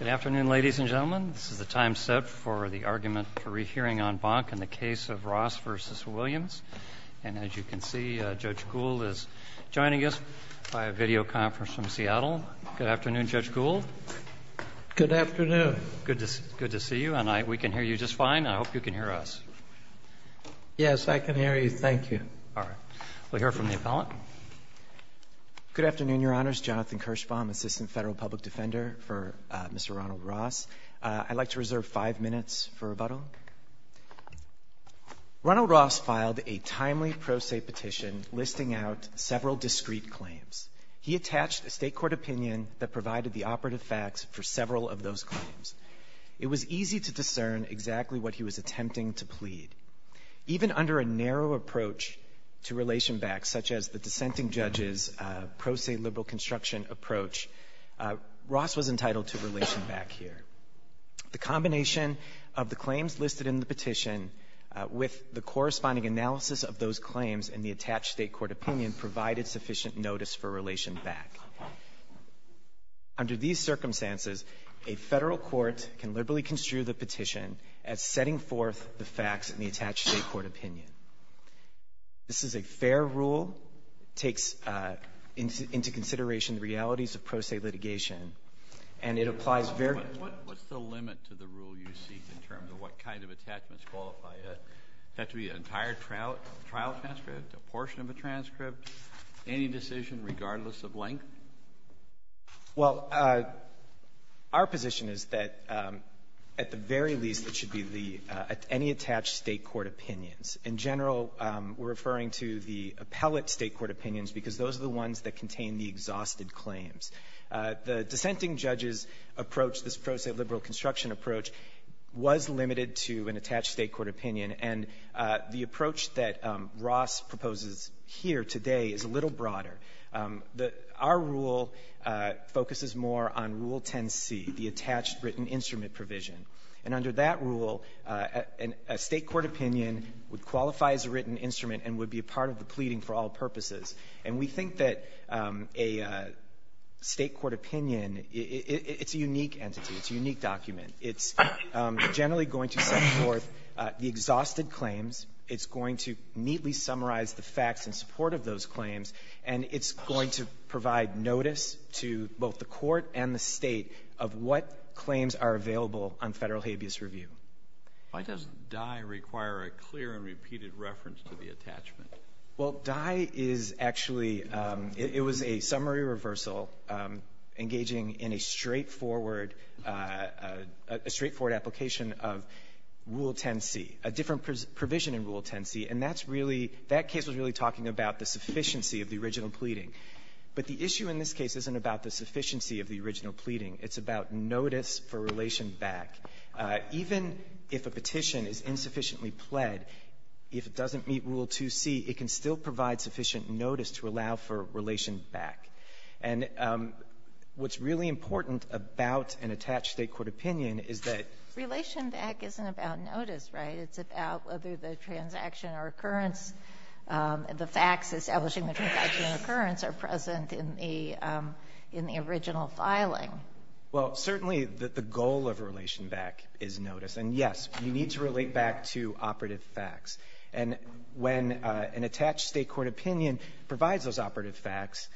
Good afternoon, ladies and gentlemen. This is the time set for the argument for rehearing on Bonk in the case of Ross v. Williams. And as you can see, Judge Gould is joining us via videoconference from Seattle. Good afternoon, Judge Gould. Good afternoon. Good to see you. And we can hear you just fine. I hope you can hear us. Yes, I can hear you. Thank you. All right. We'll hear from the appellant. Good afternoon, Your Honors. Jonathan Kirschbaum, Assistant Federal Public Defender for Mr. Ronald Ross. I'd like to reserve five minutes for rebuttal. Ronald Ross filed a timely pro se petition listing out several discrete claims. He attached a state court opinion that provided the operative facts for several of those claims. It was easy to discern exactly what he was attempting to plead. Even under a narrow approach to relation back, such as the dissenting judge's pro se liberal construction approach, Ross was entitled to relation back here. The combination of the claims listed in the petition with the corresponding analysis of those claims and the attached state court opinion provided sufficient notice for relation back. Under these circumstances, a Federal court can liberally construe the petition as setting forth the facts in the attached state court opinion. This is a fair rule. It takes into consideration the realities of pro se litigation, and it applies very What's the limit to the rule you seek in terms of what kind of attachments qualify it? Does it have to be an entire trial transcript, a portion of a transcript, any decision, regardless of length? Well, our position is that at the very least, it should be the any attached state court opinions. In general, we're referring to the appellate state court opinions because those are the ones that contain the exhausted claims. The dissenting judge's approach, this pro se liberal construction approach, was limited to an attached state court opinion, and the approach that Ross proposes here today is a little broader. Our rule focuses more on Rule 10c, the attached written instrument provision. And under that rule, a state court opinion would qualify as a written instrument and would be a part of the pleading for all purposes. And we think that a state court opinion, it's a unique entity. It's a unique document. It's generally going to set forth the exhausted claims. It's going to neatly summarize the facts in support of those claims. And it's going to provide notice to both the court and the State of what claims are available on Federal habeas review. Why does Dye require a clear and repeated reference to the attachment? Well, Dye is actually — it was a summary reversal engaging in a straightforward — a straightforward application of Rule 10c, a different provision in Rule 10c, and that's really — that case was really talking about the sufficiency of the original pleading. But the issue in this case isn't about the sufficiency of the original pleading. It's about notice for relation back. Even if a petition is insufficiently pled, if it doesn't meet Rule 2c, it can still provide sufficient notice to allow for relation back. And what's really important about an attached state court opinion is that — Relation back isn't about notice, right? It's about whether the transaction or occurrence — the facts establishing the transaction or occurrence are present in the — in the original filing. Well, certainly the goal of relation back is notice. And, yes, you need to relate back to operative facts. And when an attached state court opinion provides those operative facts,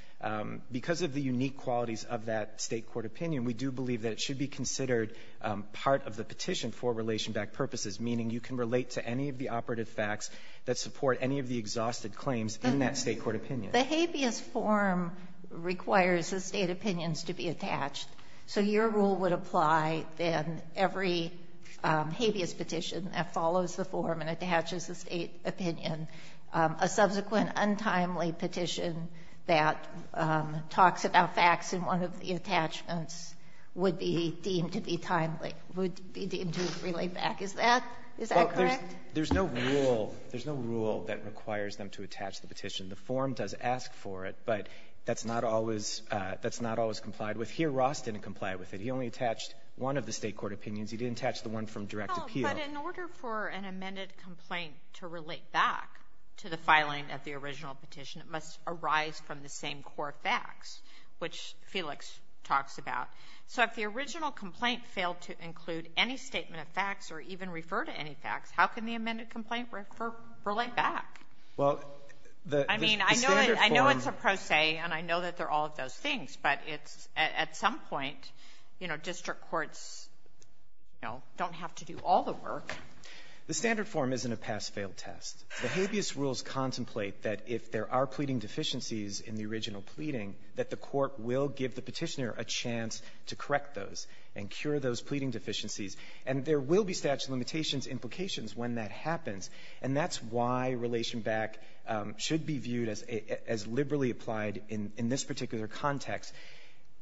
because of the unique qualities of that state court opinion, we do believe that it should be considered part of the petition for relation back purposes, meaning you can relate to any of the operative facts that support any of the exhausted claims in that state court opinion. The habeas form requires the state opinions to be attached. So your rule would imply then every habeas petition that follows the form and attaches a state opinion, a subsequent untimely petition that talks about facts in one of the attachments would be deemed to be timely, would be deemed to relate back. Is that — is that correct? There's no rule — there's no rule that requires them to attach the petition. The form does ask for it, but that's not always — that's not always complied with. Here, Ross didn't comply with it. He only attached one of the state court opinions. He didn't attach the one from direct appeal. Well, but in order for an amended complaint to relate back to the filing of the original petition, it must arise from the same core facts, which Felix talks about. So if the original complaint failed to include any statement of facts or even refer to any facts, how can the amended complaint relate back? Well, the standard form — I mean, I know it's a pro se, and I know that there are all of those things, but it's — at some point, you know, district courts, you know, don't have to do all the work. The standard form isn't a pass-fail test. The habeas rules contemplate that if there are pleading deficiencies in the original pleading, that the court will give the Petitioner a chance to correct those and cure those pleading deficiencies. And there will be statute of limitations implications when that happens. And that's why relation back should be viewed as — as liberally applied in — in this particular context.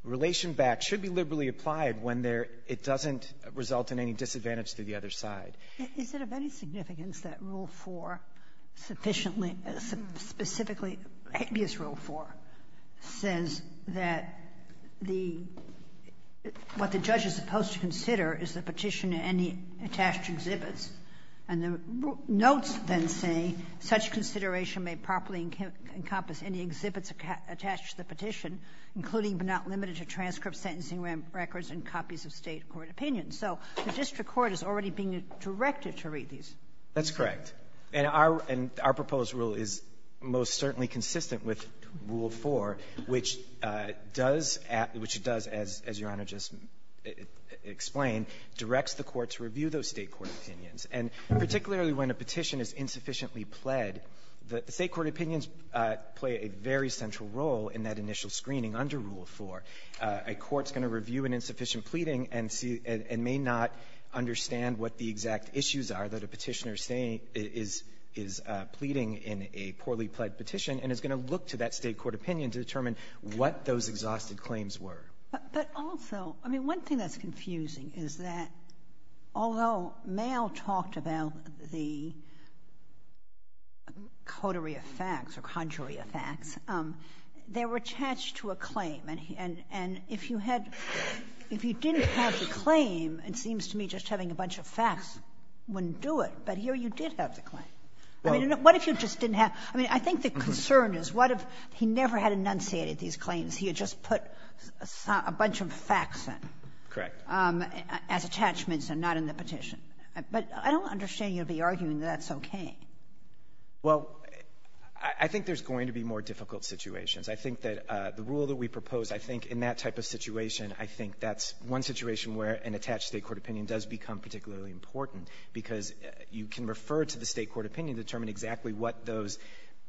Relation back should be liberally applied when there — it doesn't result in any disadvantage to the other side. Is it of any significance that Rule 4 sufficiently — specifically, habeas Rule 4 says that the — what the judge is supposed to consider is the Petitioner and the attached exhibits, and the notes then say, such consideration may properly encompass any exhibits attached to the Petition, including but not limited to transcripts, sentencing records, and copies of State court opinions. So the district court is already being directed to read these. That's correct. And our — and our proposed rule is most certainly consistent with Rule 4, which does — which it does, as Your Honor just explained, directs the court to review those State court opinions. And particularly when a petition is insufficiently pled, the State court opinions play a very central role in that initial screening under Rule 4. A court's going to review an insufficient pleading and see — and may not understand what the exact issues are that a Petitioner is — is pleading in a poorly pled petition and is going to look to that State court opinion to determine what those exhausted claims were. But also, I mean, one thing that's confusing is that, although Mayall talked about the coterie of facts or conjurey of facts, they were attached to a claim. And if you had — if you didn't have the claim, it seems to me just having a bunch of facts wouldn't do it. But here you did have the claim. I mean, what if you just didn't have — I mean, I think the concern is what if he never had enunciated these claims, he had just put a bunch of facts in. Correct. As attachments and not in the petition. But I don't understand you'll be arguing that that's okay. Well, I think there's going to be more difficult situations. I think that the rule that we propose, I think in that type of situation, I think that's one situation where an attached State court opinion does become particularly important, because you can refer to the State court opinion to determine exactly what those,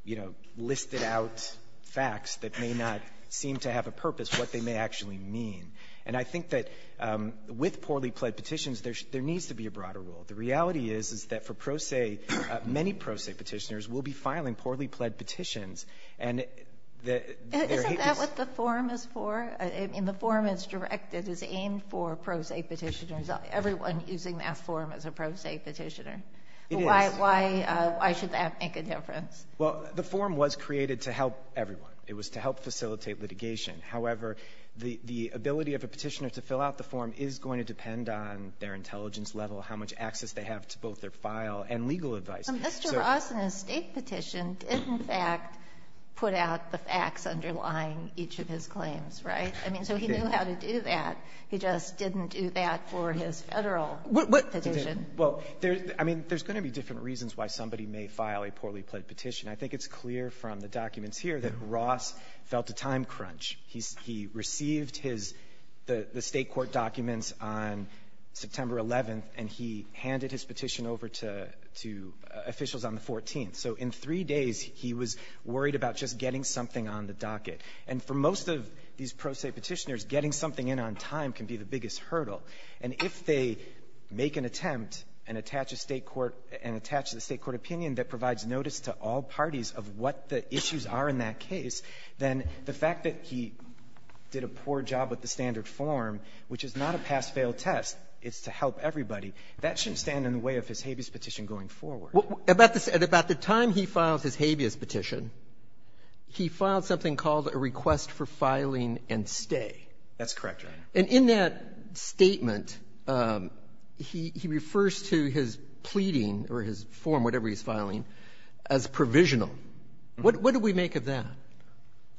you know, listed-out facts that may not seem to have a purpose, what they may actually mean. And I think that with poorly pled petitions, there needs to be a broader rule. The reality is, is that for pro se, many pro se Petitioners will be filing poorly pled petitions. And the — Isn't that what the form is for? In the form it's directed, it's aimed for pro se Petitioners, everyone using that form as a pro se Petitioner. It is. Why should that make a difference? Well, the form was created to help everyone. It was to help facilitate litigation. However, the ability of a Petitioner to fill out the form is going to depend on their intelligence level, how much access they have to both their file and legal advice. But Mr. Ross, in a State petition, did in fact put out the facts underlying each of his claims, right? I mean, so he knew how to do that. He just didn't do that for his Federal Petition. Well, I mean, there's going to be different reasons why somebody may file a poorly pled petition. I think it's clear from the documents here that Ross felt a time crunch. He received his — the State court documents on September 11th, and he handed his petition over to officials on the 14th. So in three days, he was worried about just getting something on the docket. And for most of these pro se Petitioners, getting something in on time can be the biggest hurdle. And if they make an attempt and attach a State court — and attach the State court opinion that provides notice to all parties of what the issues are in that case, then the fact that he did a poor job with the standard form, which is not a pass-fail test, it's to help everybody, that shouldn't stand in the way of his habeas petition going forward. At about the time he files his habeas petition, he files something called a request That's correct, Your Honor. And in that statement, he refers to his pleading or his form, whatever he's filing, as provisional. What do we make of that?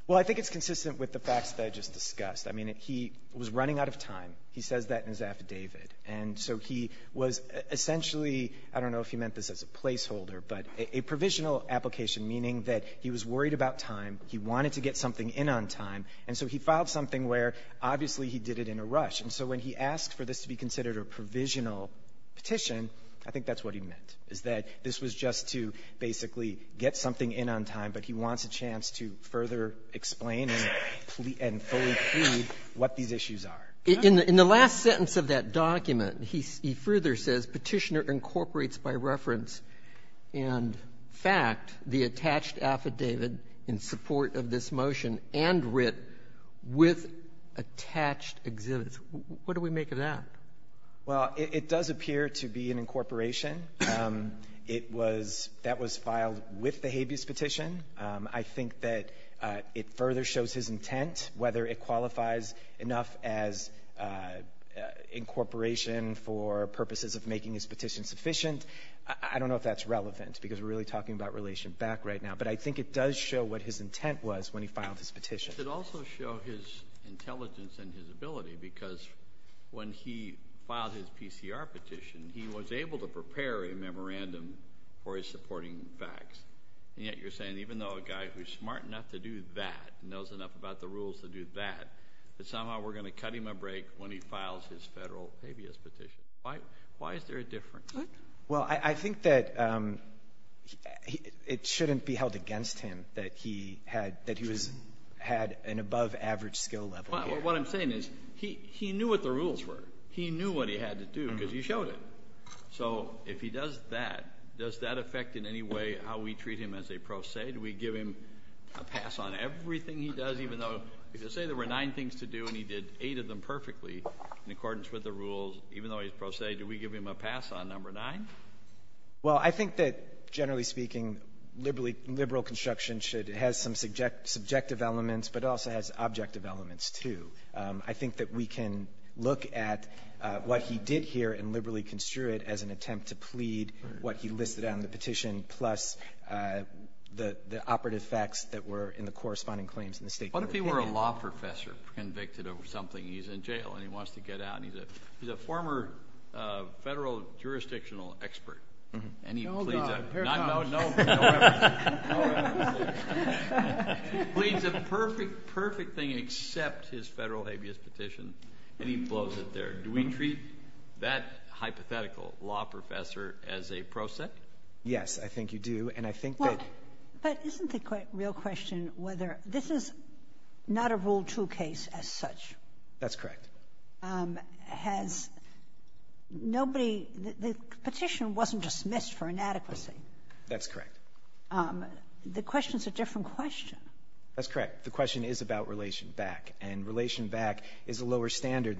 Well, I think it's consistent with the facts that I just discussed. I mean, he was running out of time. He says that in his affidavit. And so he was essentially — I don't know if he meant this as a placeholder, but a provisional application, meaning that he was worried about time. He wanted to get something in on time. And so he filed something where, obviously, he did it in a rush. And so when he asked for this to be considered a provisional petition, I think that's what he meant, is that this was just to basically get something in on time, but he wants a chance to further explain and fully plead what these issues are. In the last sentence of that document, he further says, Petitioner incorporates by reference and fact the attached affidavit in support of this motion and writ of the affidavit with attached exhibits. What do we make of that? Well, it does appear to be an incorporation. It was — that was filed with the habeas petition. I think that it further shows his intent, whether it qualifies enough as incorporation for purposes of making his petition sufficient. I don't know if that's relevant, because we're really talking about relation back right now. But I think it does show what his intent was when he filed his petition. But it should also show his intelligence and his ability, because when he filed his PCR petition, he was able to prepare a memorandum for his supporting facts. And yet you're saying even though a guy who's smart enough to do that, knows enough about the rules to do that, that somehow we're going to cut him a break when he files his federal habeas petition. Why is there a difference? Well, I think that it shouldn't be held against him that he had — that he was — had an above-average skill level. What I'm saying is, he knew what the rules were. He knew what he had to do, because he showed it. So if he does that, does that affect in any way how we treat him as a pro se? Do we give him a pass on everything he does, even though — if you say there were nine things to do and he did eight of them perfectly in accordance with the rules, even though he's pro se, do we give him a pass on number nine? Well, I think that, generally speaking, liberal construction should — has some subjective elements, but it also has objective elements, too. I think that we can look at what he did here and liberally construe it as an attempt to plead what he listed on the petition, plus the operative facts that were in the corresponding claims in the State court. What if he were a law professor convicted of something, and he's in jail, and he wants to get out? I mean, he's a former federal jurisdictional expert, and he pleads a perfect, perfect thing except his federal habeas petition, and he blows it there. Do we treat that hypothetical law professor as a pro se? Yes, I think you do. And I think that — But isn't the real question whether — this is not a Rule 2 case as such. That's correct. Has nobody — the petition wasn't dismissed for inadequacy. That's correct. The question is a different question. That's correct. The question is about relation back, and relation back is a lower standard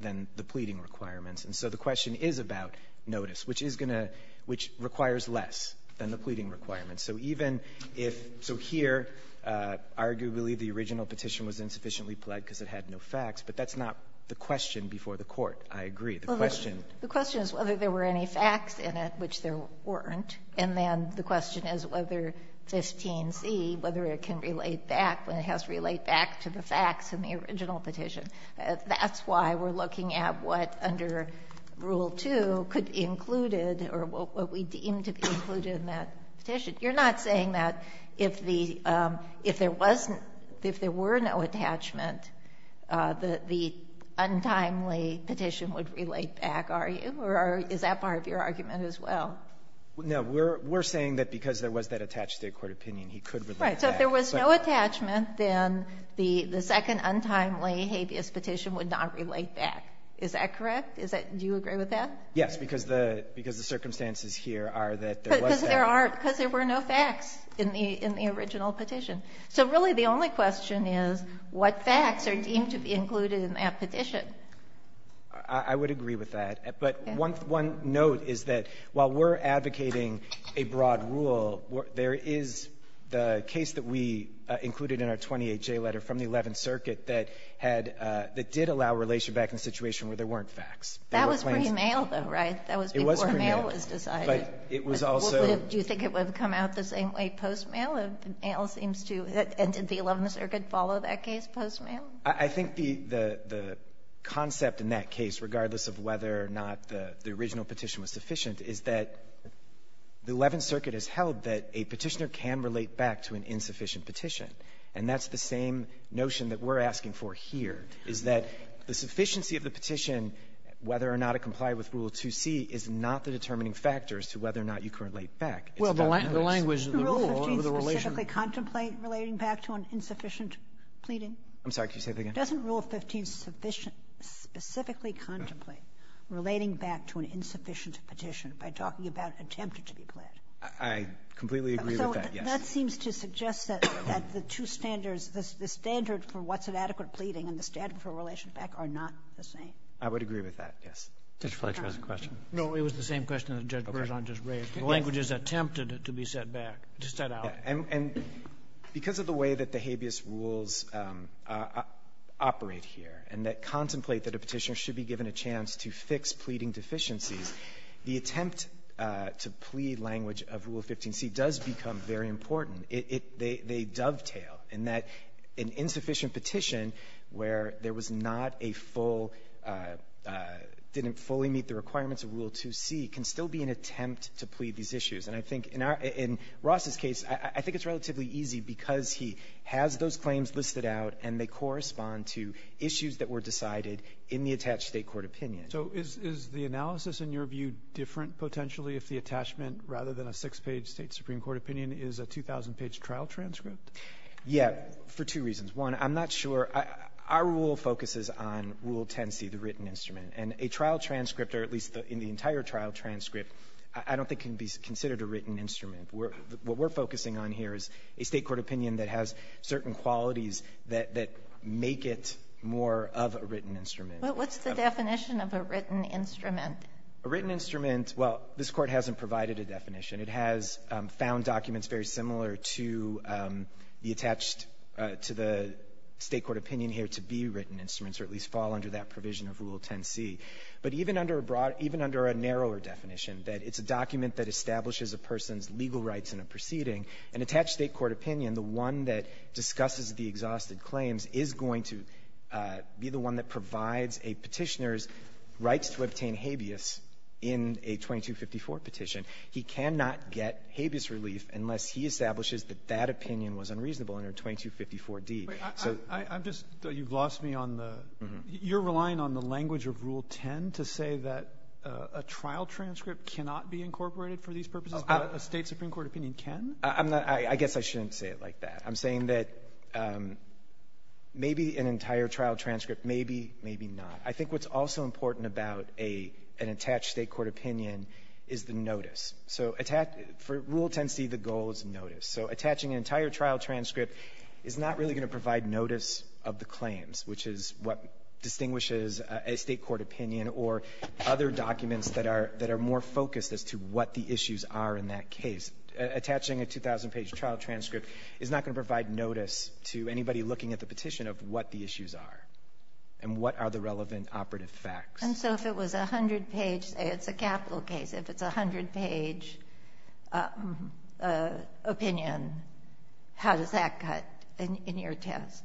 than the pleading requirements. And so the question is about notice, which is going to — which requires less than the pleading requirements. So even if — so here, arguably, the original petition was insufficiently pled because it had no facts, but that's not the question before the Court. I agree. The question — Well, the question is whether there were any facts in it, which there weren't. And then the question is whether 15c, whether it can relate back, whether it has to relate back to the facts in the original petition. That's why we're looking at what, under Rule 2, could be included, or what we deem to be included in that petition. You're not saying that if the — if there wasn't — if there were no attachment, the — the untimely petition would relate back, are you, or is that part of your argument as well? No. We're — we're saying that because there was that attached-to-the-court opinion, he could relate back. Right. So if there was no attachment, then the — the second untimely habeas petition would not relate back. Is that correct? Is that — do you agree with that? Yes, because the — because the circumstances here are that there was that. Because there are — because there were no facts in the — in the original petition. So really, the only question is what facts are deemed to be included in that petition. I would agree with that. But one — one note is that while we're advocating a broad rule, there is the case that we included in our 28J letter from the Eleventh Circuit that had — that did allow relation back in a situation where there weren't facts. There were claims — That was before mail was decided. It was pre-mail. But it was also — Do you think it would have come out the same way post-mail? Mail seems to — and did the Eleventh Circuit follow that case post-mail? I think the — the concept in that case, regardless of whether or not the — the original petition was sufficient, is that the Eleventh Circuit has held that a Petitioner can relate back to an insufficient petition. And that's the same notion that we're asking for here, is that the sufficiency of the petition, whether or not it complied with Rule 2C, is not the determining factor as to whether or not you can relate back. It's the language. Well, the language of the rule over the relation. Doesn't Rule 15 specifically contemplate relating back to an insufficient pleading? I'm sorry. Can you say that again? Doesn't Rule 15 sufficiently — specifically contemplate relating back to an insufficient petition by talking about attempted to be pled? I completely agree with that, yes. So that seems to suggest that the two standards, the standard for what's an adequate pleading and the standard for relation back, are not the same. I would agree with that, yes. Mr. Fletcher has a question. No. It was the same question that Judge Bergen just raised. Okay. The language is attempted to be set back, to set out. Yeah. And because of the way that the habeas rules operate here and that contemplate that a Petitioner should be given a chance to fix pleading deficiencies, the attempt to plead language of Rule 15C does become very important. They dovetail in that an insufficient petition where there was not a full — didn't fully meet the requirements of Rule 2C can still be an attempt to plead these issues. And I think in our — in Ross's case, I think it's relatively easy because he has those claims listed out and they correspond to issues that were decided in the attached State court opinion. So is the analysis in your view different potentially if the attachment, rather than a six-page State supreme court opinion, is a 2,000-page trial transcript? Yeah. For two reasons. One, I'm not sure — our rule focuses on Rule 10C, the written instrument. And a trial transcript, or at least in the entire trial transcript, I don't think can be considered a written instrument. What we're focusing on here is a State court opinion that has certain qualities that make it more of a written instrument. But what's the definition of a written instrument? A written instrument, well, this Court hasn't provided a definition. It has found documents very similar to the attached — to the State court opinion here to be written instruments, or at least fall under that provision of Rule 10C. But even under a broad — even under a narrower definition, that it's a document that establishes a person's legal rights in a proceeding, an attached State court opinion, the one that discusses the exhausted claims, is going to be the one that in a 2254 petition. He cannot get habeas relief unless he establishes that that opinion was unreasonable under 2254d. So — I'm just — you've lost me on the — you're relying on the language of Rule 10 to say that a trial transcript cannot be incorporated for these purposes, but a State Supreme Court opinion can? I'm not — I guess I shouldn't say it like that. I'm saying that maybe an entire trial transcript, maybe, maybe not. I think what's also important about an attached State court opinion is the notice. So for Rule 10C, the goal is notice. So attaching an entire trial transcript is not really going to provide notice of the claims, which is what distinguishes a State court opinion or other documents that are more focused as to what the issues are in that case. Attaching a 2,000-page trial transcript is not going to provide notice to anybody looking at the petition of what the issues are and what are the relevant operative facts. And so if it was a 100-page — it's a capital case. If it's a 100-page opinion, how does that cut in your test?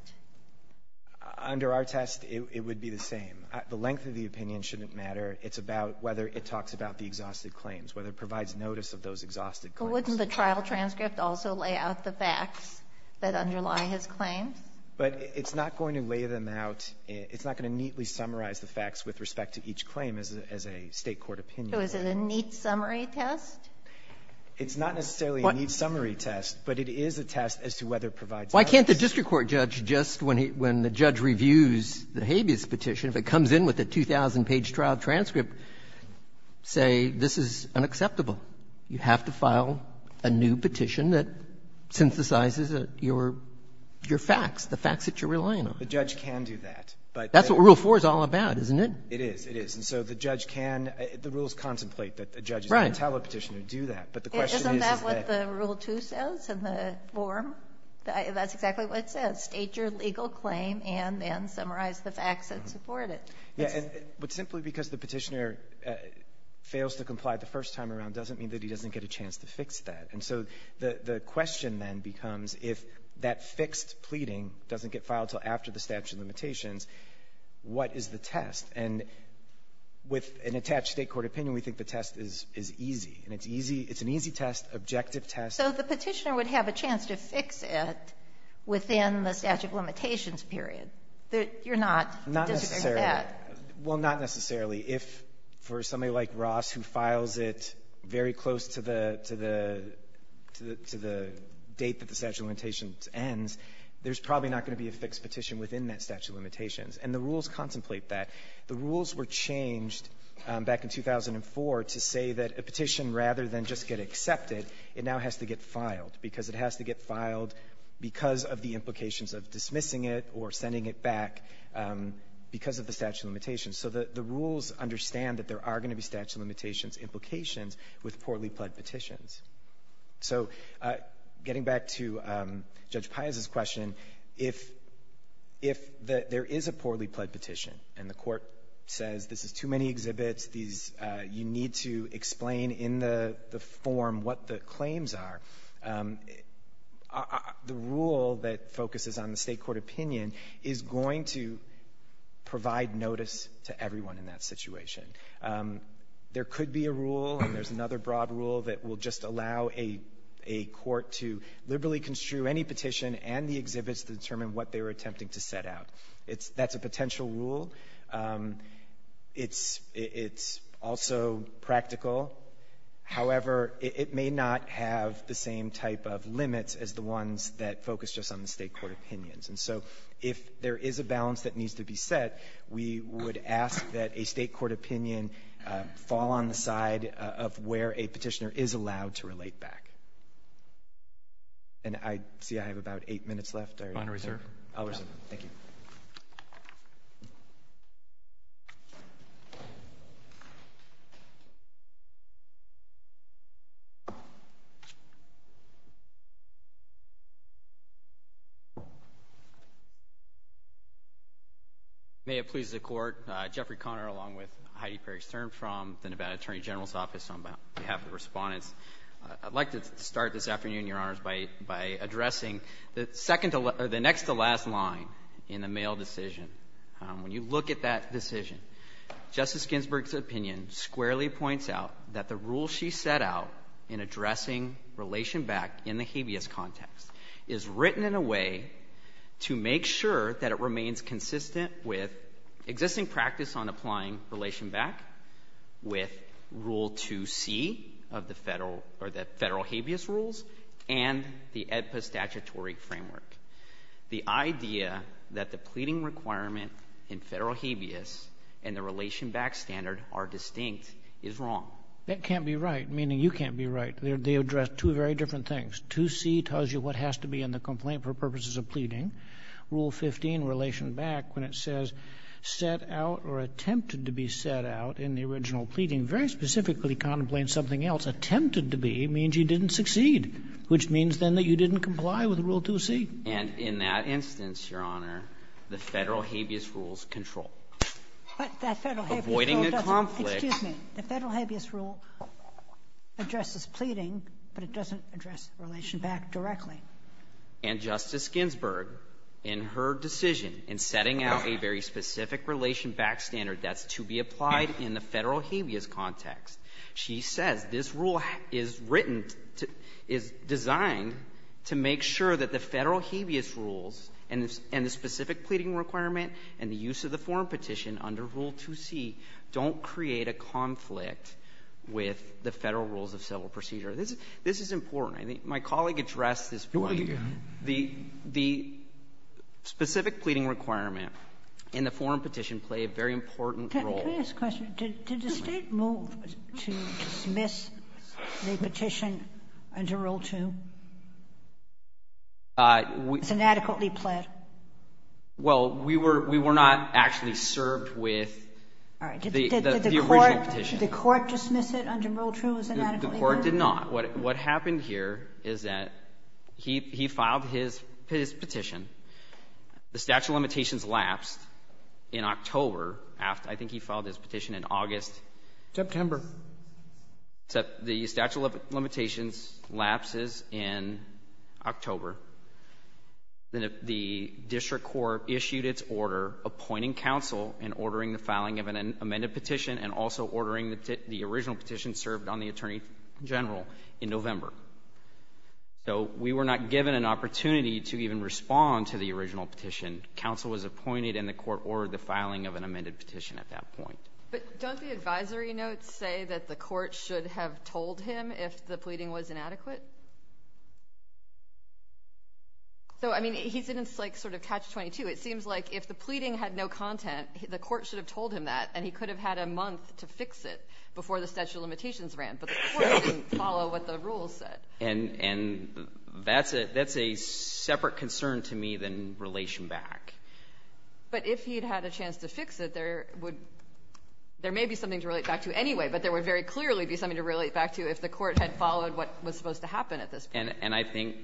Under our test, it would be the same. The length of the opinion shouldn't matter. It's about whether it talks about the exhausted claims, whether it provides notice of those exhausted claims. So wouldn't the trial transcript also lay out the facts that underlie his claims? But it's not going to lay them out. It's not going to neatly summarize the facts with respect to each claim as a State court opinion. So is it a neat summary test? It's not necessarily a neat summary test, but it is a test as to whether it provides notice. Why can't the district court judge, just when he — when the judge reviews the habeas petition, if it comes in with a 2,000-page trial transcript, say this is unacceptable? You have to file a new petition that synthesizes your facts, the facts that you're relying on. The judge can do that. That's what Rule 4 is all about, isn't it? It is. It is. And so the judge can — the rules contemplate that the judge is going to tell a petitioner to do that. Right. Isn't that what the Rule 2 says in the form? That's exactly what it says. State your legal claim and then summarize the facts that support it. Yeah. But simply because the petitioner fails to comply the first time around doesn't mean that he doesn't get a chance to fix that. And so the question then becomes if that fixed pleading doesn't get filed until after the statute of limitations, what is the test? And with an attached State court opinion, we think the test is easy. And it's easy. It's an easy test, objective test. So the petitioner would have a chance to fix it within the statute of limitations period. You're not disagreeing with that. Well, not necessarily. If for somebody like Ross who files it very close to the — to the — to the date that the statute of limitations ends, there's probably not going to be a fixed petition within that statute of limitations. And the rules contemplate that. The rules were changed back in 2004 to say that a petition, rather than just get accepted, it now has to get filed, because it has to get filed because of the implications of dismissing it or sending it back because of the statute of limitations. So the rules understand that there are going to be statute of limitations implications with poorly pled petitions. So getting back to Judge Piazza's question, if — if there is a poorly pled petition and the court says this is too many exhibits, these — you need to explain in the The rule that focuses on the State court opinion is going to provide notice to everyone in that situation. There could be a rule, and there's another broad rule, that will just allow a court to liberally construe any petition and the exhibits to determine what they were attempting to set out. It's — that's a potential rule. It's — it's also practical. However, it may not have the same type of limits as the ones that focus just on the State court opinions. And so if there is a balance that needs to be set, we would ask that a State court opinion fall on the side of where a petitioner is allowed to relate back. And I — see, I have about eight minutes left. Final reserve? I'll reserve. Thank you. May it please the Court, Jeffrey Conner along with Heidi Perry Stern from the Nevada Attorney General's Office on behalf of the respondents, I'd like to start this afternoon, Your Honors, by — by addressing the second — or the next-to-last line in the mail decision. When you look at that decision, Justice Ginsburg's opinion squarely points out that the rule she set out in addressing relation back in the habeas context is written in a way to make sure that it remains consistent with existing practice on applying relation back, with Rule 2c of the Federal — or the Federal habeas rules, and the AEDPA statutory framework. The idea that the pleading requirement in Federal habeas and the relation back standard are distinct is wrong. That can't be right, meaning you can't be right. They address two very different things. 2c tells you what has to be in the complaint for purposes of pleading. Rule 15, relation back, when it says set out or attempted to be set out in the original pleading, very specifically contemplates something else. Attempted to be means you didn't succeed, which means then that you didn't comply with Rule 2c. And in that instance, Your Honor, the Federal habeas rules control. But that Federal habeas rule doesn't. Avoiding a conflict. Excuse me. The Federal habeas rule addresses pleading, but it doesn't address relation back directly. And Justice Ginsburg, in her decision in setting out a very specific relation back standard that's to be applied in the Federal habeas context, she says this rule is written, is designed to make sure that the Federal habeas rules and the specific pleading requirement and the use of the Foreign Petition under Rule 2c don't create a conflict with the Federal rules of civil procedure. This is important. My colleague addressed this point. The specific pleading requirement in the Foreign Petition play a very important role. Can I ask a question? Did the State move to dismiss the petition under Rule 2? It's inadequately pled. Well, we were not actually served with the original petition. Did the court dismiss it under Rule 2 as inadequately pled? The court did not. What happened here is that he filed his petition. The statute of limitations lapsed in October after I think he filed his petition in August. September. The statute of limitations lapses in October. Then the district court issued its order appointing counsel and ordering the filing of an amended petition and also ordering the original petition served on the attorney general in November. So we were not given an opportunity to even respond to the original petition. Counsel was appointed and the court ordered the filing of an amended petition at that point. But don't the advisory notes say that the court should have told him if the pleading was inadequate? So, I mean, he didn't sort of catch 22. It seems like if the pleading had no content, the court should have told him that and he could have had a month to fix it before the statute of limitations ran. But the court didn't follow what the rules said. And that's a separate concern to me than relation back. But if he had had a chance to fix it, there would be something to relate back to anyway, but there would very clearly be something to relate back to if the court had followed what was supposed to happen at this point. And I think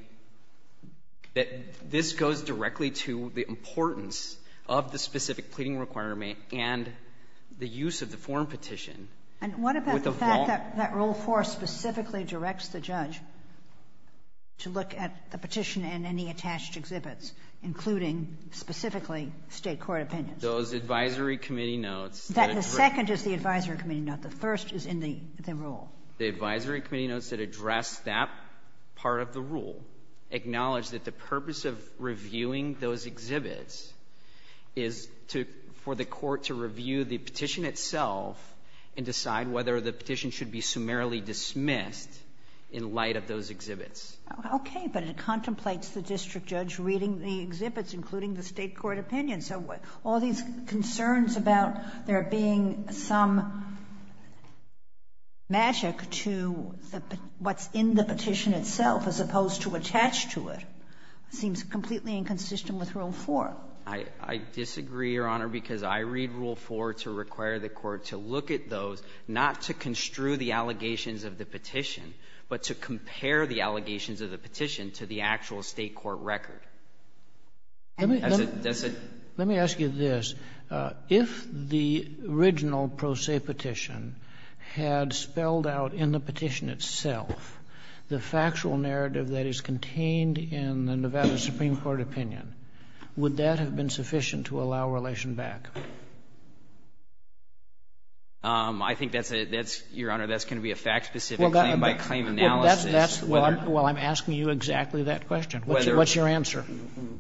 that this goes directly to the importance of the specific pleading requirement and the use of the foreign petition. And what about the fact that Rule 4 specifically directs the judge to look at the petition and any attached exhibits, including specifically State court opinions? Those advisory committee notes. The second is the advisory committee note. The first is in the rule. The advisory committee notes that address that part of the rule acknowledge that the purpose of reviewing those exhibits is to for the court to review the petition itself and decide whether the petition should be summarily dismissed in light of those exhibits. Okay. But it contemplates the district judge reading the exhibits, including the State court opinions. So all these concerns about there being some magic to what's in the petition itself, as opposed to attached to it, seems completely inconsistent with Rule 4. I disagree, Your Honor, because I read Rule 4 to require the court to look at those, not to construe the allegations of the petition, but to compare the allegations of the petition to the actual State court record. Does it? Let me ask you this. If the original pro se petition had spelled out in the petition itself the factual narrative that is contained in the Nevada Supreme Court opinion, would that have been sufficient to allow relation back? I think that's a — that's — Your Honor, that's going to be a fact-specific claim-by-claim analysis. Well, I'm asking you exactly that question. What's your answer?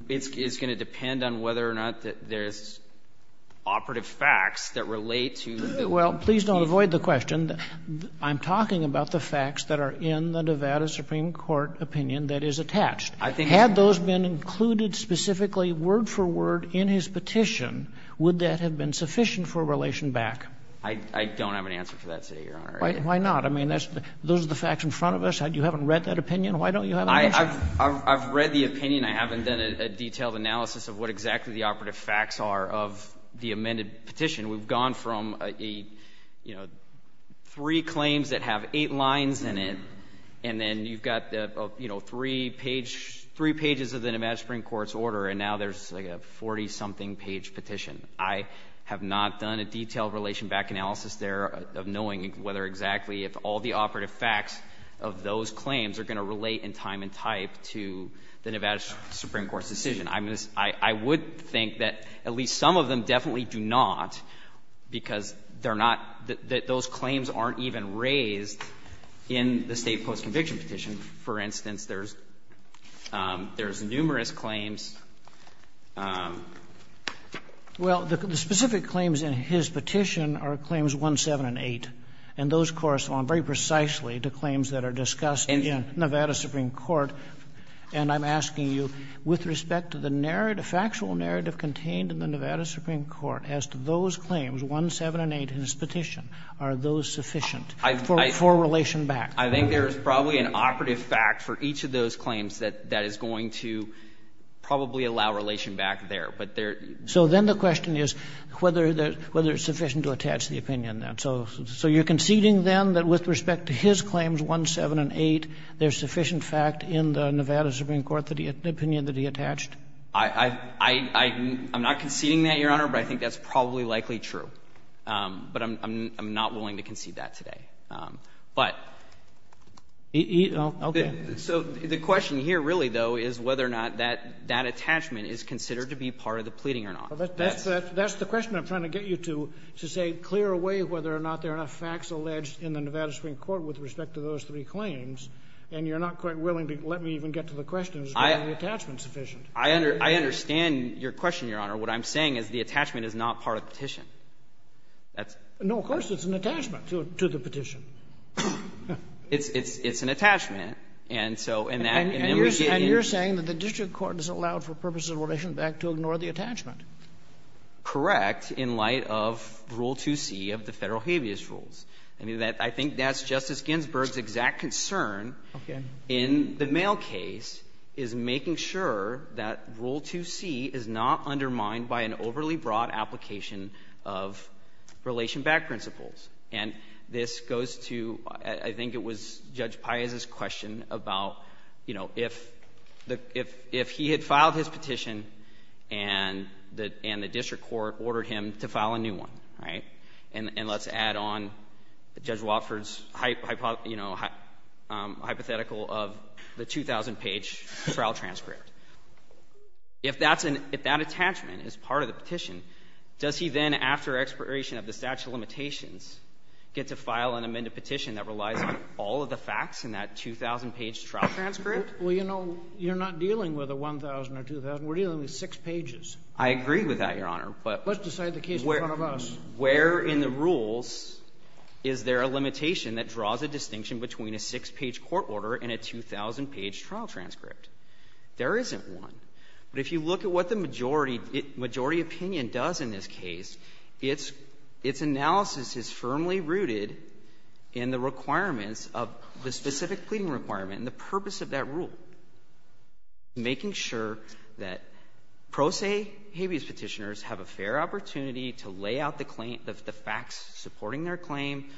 It's going to depend on whether or not there's operative facts that relate to the petition. Well, please don't avoid the question. I'm talking about the facts that are in the Nevada Supreme Court opinion that is attached. Had those been included specifically word for word in his petition, would that have been sufficient for relation back? I don't have an answer for that, Your Honor. Why not? I mean, those are the facts in front of us. You haven't read that opinion. Why don't you have an answer? I've read the opinion. I haven't done a detailed analysis of what exactly the operative facts are of the amended petition. We've gone from, you know, three claims that have eight lines in it, and then you've got, you know, three pages of the Nevada Supreme Court's order, and now there's like a 40-something page petition. I have not done a detailed relation back analysis there of knowing whether exactly if all the operative facts of those claims are going to relate in time and type to the Nevada Supreme Court's decision. I would think that at least some of them definitely do not, because they're not — that those claims aren't even raised in the State Post-Conviction Petition. For instance, there's numerous claims. Well, the specific claims in his petition are Claims 1, 7, and 8, and those correspond very precisely to claims that are discussed in Nevada Supreme Court. And I'm asking you, with respect to the narrative, factual narrative contained in the Nevada Supreme Court as to those claims, 1, 7, and 8 in his petition, are those sufficient for relation back? I think there is probably an operative fact for each of those claims that is going to probably allow relation back there. But there — So then the question is whether it's sufficient to attach the opinion then. So you're conceding then that with respect to his claims, 1, 7, and 8, there's sufficient fact in the Nevada Supreme Court, the opinion that he attached? I'm not conceding that, Your Honor, but I think that's probably likely true. But I'm not willing to concede that today. But the question here, really, though, is whether or not that attachment is considered to be part of the pleading or not. That's the question I'm trying to get you to, to say clear away whether or not there are enough facts alleged in the Nevada Supreme Court with respect to those three claims. And you're not quite willing to let me even get to the question as to whether the attachment is sufficient. I understand your question, Your Honor. What I'm saying is the attachment is not part of the petition. That's — No, of course it's an attachment to the petition. It's an attachment. And so in that — And you're saying that the district court doesn't allow for purposes of relation back to ignore the attachment. Correct, in light of Rule 2c of the Federal habeas rules. I mean, I think that's Justice Ginsburg's exact concern in the mail case is making sure that Rule 2c is not undermined by an overly broad application of relation back principles. And this goes to, I think it was Judge Paius's question about, you know, if the — if he had filed his petition and the district court ordered him to file a new one, right? And let's add on Judge Watford's hypothetical of the 2,000-page trial transcript. If that's an — if that attachment is part of the petition, does he then, after expiration of the statute of limitations, get to file an amended petition that relies on all of the facts in that 2,000-page trial transcript? Well, you know, you're not dealing with a 1,000 or 2,000. We're dealing with six pages. I agree with that, Your Honor, but — Let's decide the case in front of us. Where in the rules is there a limitation that draws a distinction between a six-page court order and a 2,000-page trial transcript? There isn't one. But if you look at what the majority — majority opinion does in this case, its — its analysis is firmly rooted in the requirements of the specific pleading requirement and the purpose of that rule, making sure that pro se habeas Petitioners have a fair opportunity to lay out the claim — the facts supporting their claim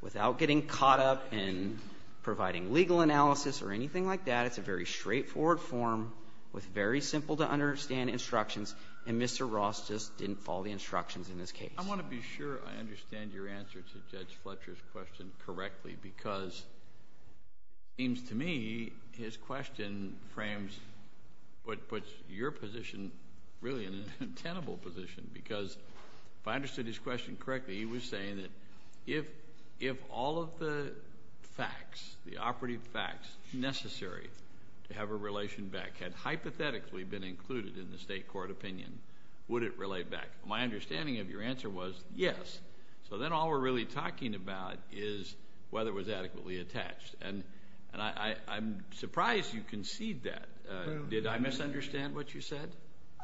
without getting caught up in providing legal analysis or anything like that. It's a very straightforward form with very simple-to-understand instructions, and Mr. Ross just didn't follow the instructions in this case. I want to be sure I understand your answer to Judge Fletcher's question correctly because it seems to me his question frames what puts your position really in a tenable position because, if I understood his question correctly, he was saying that if — if all of the facts, the operative facts necessary to have a relation back had hypothetically been included in the state court opinion, would it relate back? My understanding of your answer was yes. So then all we're really talking about is whether it was adequately attached. And — and I — I'm surprised you conceded that. Did I misunderstand what you said?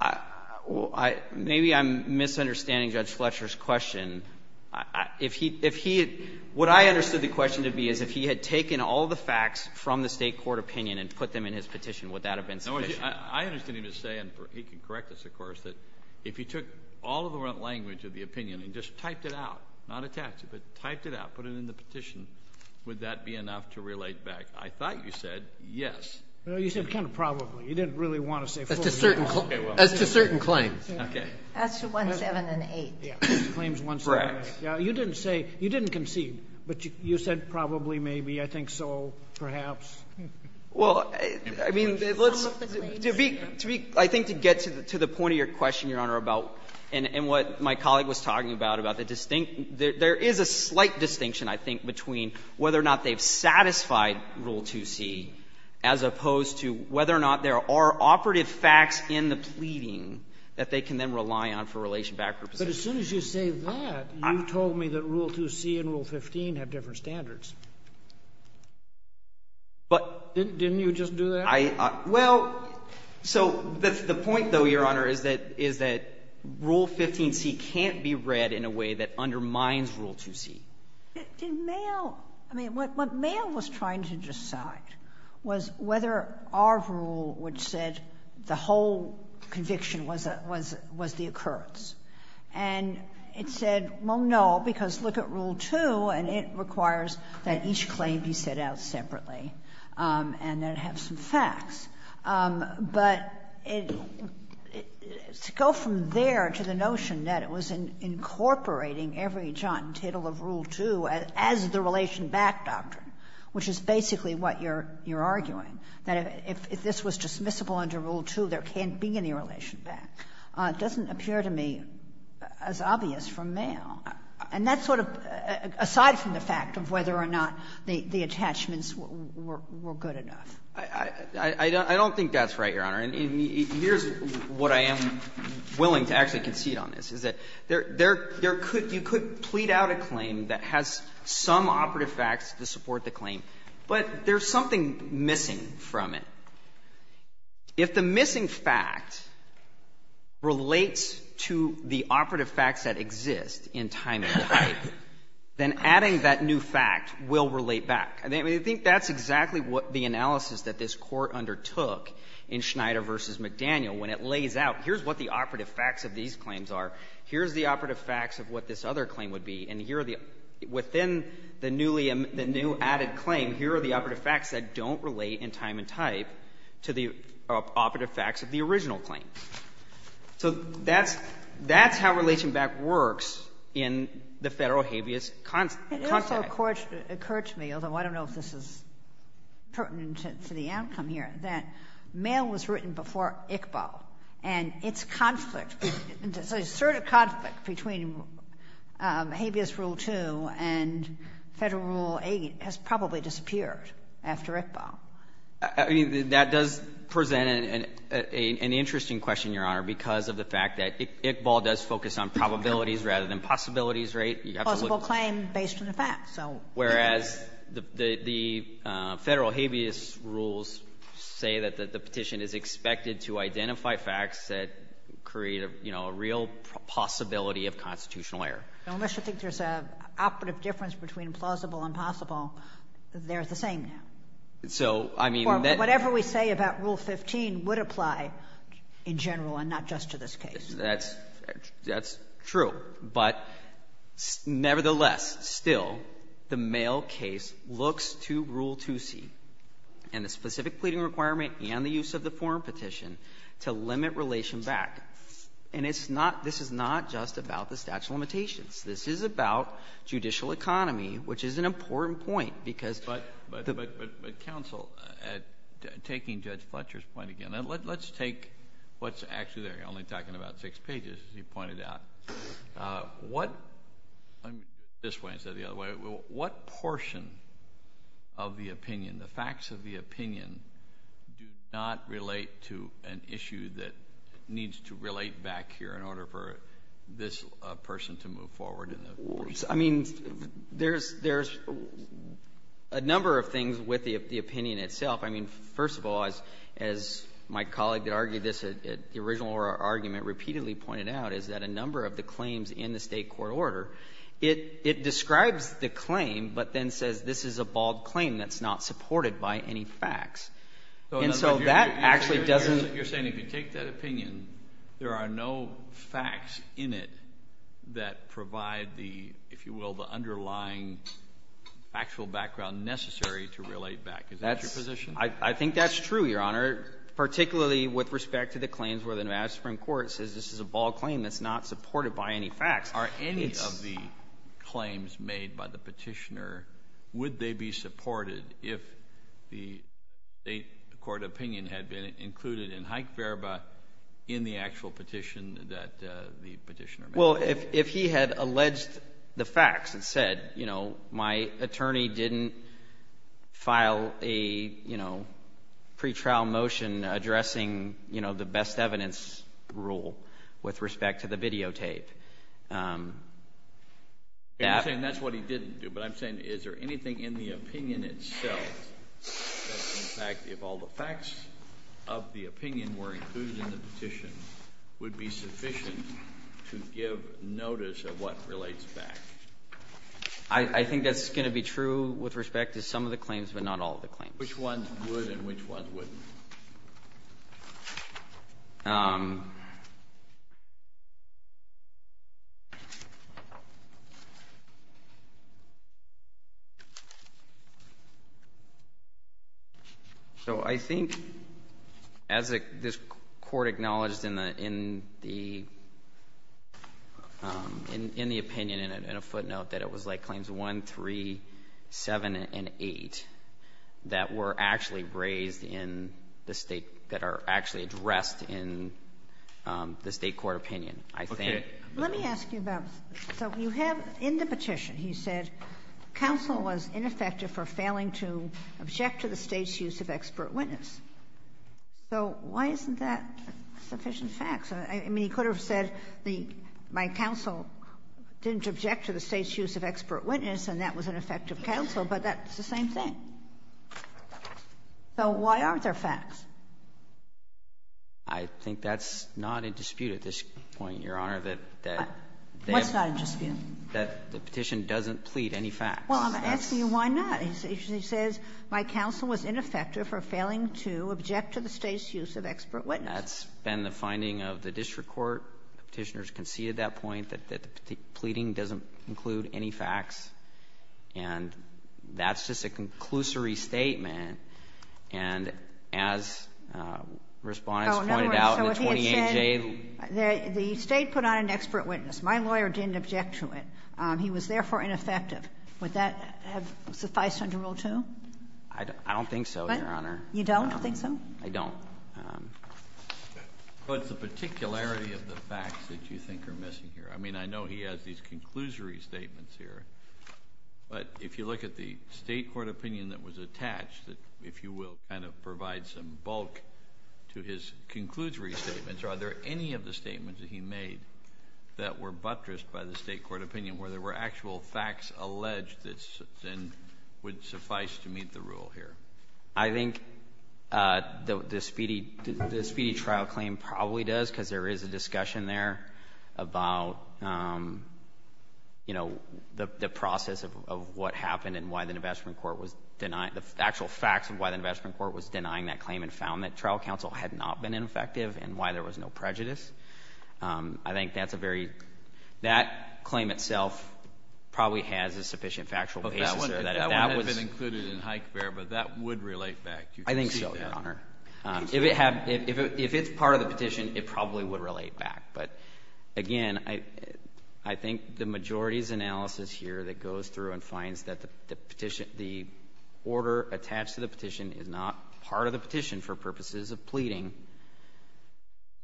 I — well, I — maybe I'm misunderstanding Judge Fletcher's question. If he — if he — what I understood the question to be is if he had taken all the facts from the state court opinion and put them in his petition, would that have been sufficient? No, I understand what he was saying, and he can correct us, of course, that if he took all of the wrong language of the opinion and just typed it out, not attached it, but typed it out, put it in the petition, would that be enough to relate back? I thought you said yes. No, you said kind of probably. You didn't really want to say — As to certain — as to certain claims. Okay. As to 17 and 8. As to claims 17 and 8. Correct. You didn't say — you didn't concede, but you said probably, maybe, I think so, perhaps. Well, I mean, let's — to be — to be — I think to get to the point of your question, Your Honor, about — and what my colleague was talking about, about the — there is a slight distinction, I think, between whether or not they've satisfied Rule 2c as opposed to whether or not there are operative facts in the pleading that they can then rely on for relation back representation. But as soon as you say that, you told me that Rule 2c and Rule 15 have different standards. But — Didn't you just do that? I — well, so the point, though, Your Honor, is that — is that Rule 15c can't be read in a way that undermines Rule 2c. Did — did Mayo — I mean, what Mayo was trying to decide was whether our rule would set the whole conviction was a — was the occurrence. And it said, well, no, because look at Rule 2, and it requires that each claim be set out separately and that it have some facts. But it — to go from there to the notion that it was incorporating every jot and tittle of Rule 2 as the relation back doctrine, which is basically what you're — you're arguing, that if this was dismissible under Rule 2, there can't be any relation back, doesn't appear to me as obvious from Mayo. And that's sort of — aside from the fact of whether or not the attachments were — were good enough. I — I don't think that's right, Your Honor. And here's what I am willing to actually concede on this, is that there — there could — you could plead out a claim that has some operative facts to support the claim, but there's something missing from it. If the missing fact relates to the operative facts that exist in time and type, then adding that new fact will relate back. I mean, I think that's exactly what the analysis that this Court undertook in Schneider v. McDaniel when it lays out, here's what the operative facts of these claims are, here's the operative facts of what this other claim would be, and here are the — within the newly — the new added claim, here are the operative facts that don't relate in time and type to the operative facts of the original claim. So that's — that's how relation back works in the Federal habeas concept. Ginsburg. It also occurred to me, although I don't know if this is pertinent to the outcome here, that mail was written before ICBO, and its conflict, its assertive conflict between habeas rule 2 and Federal rule 8 has probably disappeared after ICBO. I mean, that does present an — an interesting question, Your Honor, because of the fact that ICBO does focus on probabilities rather than possibilities, right? You have to look at the — Possible claim based on the facts, so — Whereas the — the Federal habeas rules say that the petition is expected to identify facts that create a, you know, a real possibility of constitutional error. Unless you think there's an operative difference between plausible and possible, they're the same now. So, I mean — Or whatever we say about Rule 15 would apply in general and not just to this case. That's — that's true. But nevertheless, still, the mail case looks to Rule 2C and the specific pleading requirement and the use of the foreign petition to limit relation back. And it's not — this is not just about the statute of limitations. This is about judicial economy, which is an important point, because — But — but counsel, taking Judge Fletcher's point again, let's take what's actually there. You're only talking about six pages, as you pointed out. What — I'm — this way instead of the other way. What portion of the opinion, the facts of the opinion, do not relate to an issue that needs to relate back here in order for this person to move forward in the case? I mean, there's — there's a number of things with the opinion itself. I mean, first of all, as — as my colleague that argued this at the original argument repeatedly pointed out, is that a number of the claims in the State court order, it — it describes the claim, but then says this is a bald claim that's not supported by any facts. And so that actually doesn't — You're saying if you take that opinion, there are no facts in it that provide the, if you will, the underlying factual background necessary to relate back. Is that your position? That's — I think that's true, Your Honor, particularly with respect to the claims where the Nevada Supreme Court says this is a bald claim that's not supported by any facts. Are any of the claims made by the petitioner — would they be supported if the State court opinion had been included in Hike-Verba in the actual petition that the petitioner made? Well, if — if he had alleged the facts and said, you know, my attorney didn't file a, you know, pretrial motion addressing, you know, the best evidence rule with respect to the videotape — You're saying that's what he didn't do, but I'm saying is there anything in the opinion itself that in fact, if all the facts of the opinion were included in the petition, would be sufficient to give notice of what relates back? I think that's going to be true with respect to some of the claims but not all of the claims. Which ones would and which ones wouldn't? So, I think, as this Court acknowledged in the — in the opinion, in a footnote, that was like claims 1, 3, 7, and 8 that were actually raised in the State — that are actually addressed in the State court opinion. I think — Okay. Let me ask you about — so you have in the petition, he said, counsel was ineffective for failing to object to the State's use of expert witness. So why isn't that sufficient facts? I mean, he could have said the — my counsel didn't object to the State's use of expert witness, and that was an effective counsel, but that's the same thing. So why aren't there facts? I think that's not in dispute at this point, Your Honor, that — What's not in dispute? That the petition doesn't plead any facts. Well, I'm asking you why not. He says, my counsel was ineffective for failing to object to the State's use of expert witness. That's been the finding of the district court. Petitioners conceded that point, that the pleading doesn't include any facts. And that's just a conclusory statement, and as Respondent's pointed out in the 28J Oh, in other words, so if he had said, the State put on an expert witness. My lawyer didn't object to it. He was therefore ineffective. Would that have sufficed under Rule 2? I don't think so, Your Honor. You don't think so? I don't. What's the particularity of the facts that you think are missing here? I mean, I know he has these conclusory statements here, but if you look at the State court opinion that was attached, if you will, kind of provide some bulk to his conclusory statements, are there any of the statements that he made that were buttressed by the State court opinion, where there were actual facts alleged that then would suffice to meet the rule here? I think the speedy trial claim probably does, because there is a discussion there about, you know, the process of what happened and why the investment court was denying, the actual facts of why the investment court was denying that claim and found that trial counsel had not been ineffective and why there was no prejudice. I think that's a very, that claim itself probably has a sufficient factual basis. That would have been included in Hike-Bear, but that would relate back. I think so, Your Honor. If it's part of the petition, it probably would relate back, but again, I think the majority's analysis here that goes through and finds that the order attached to the petition is not part of the petition for purposes of pleading.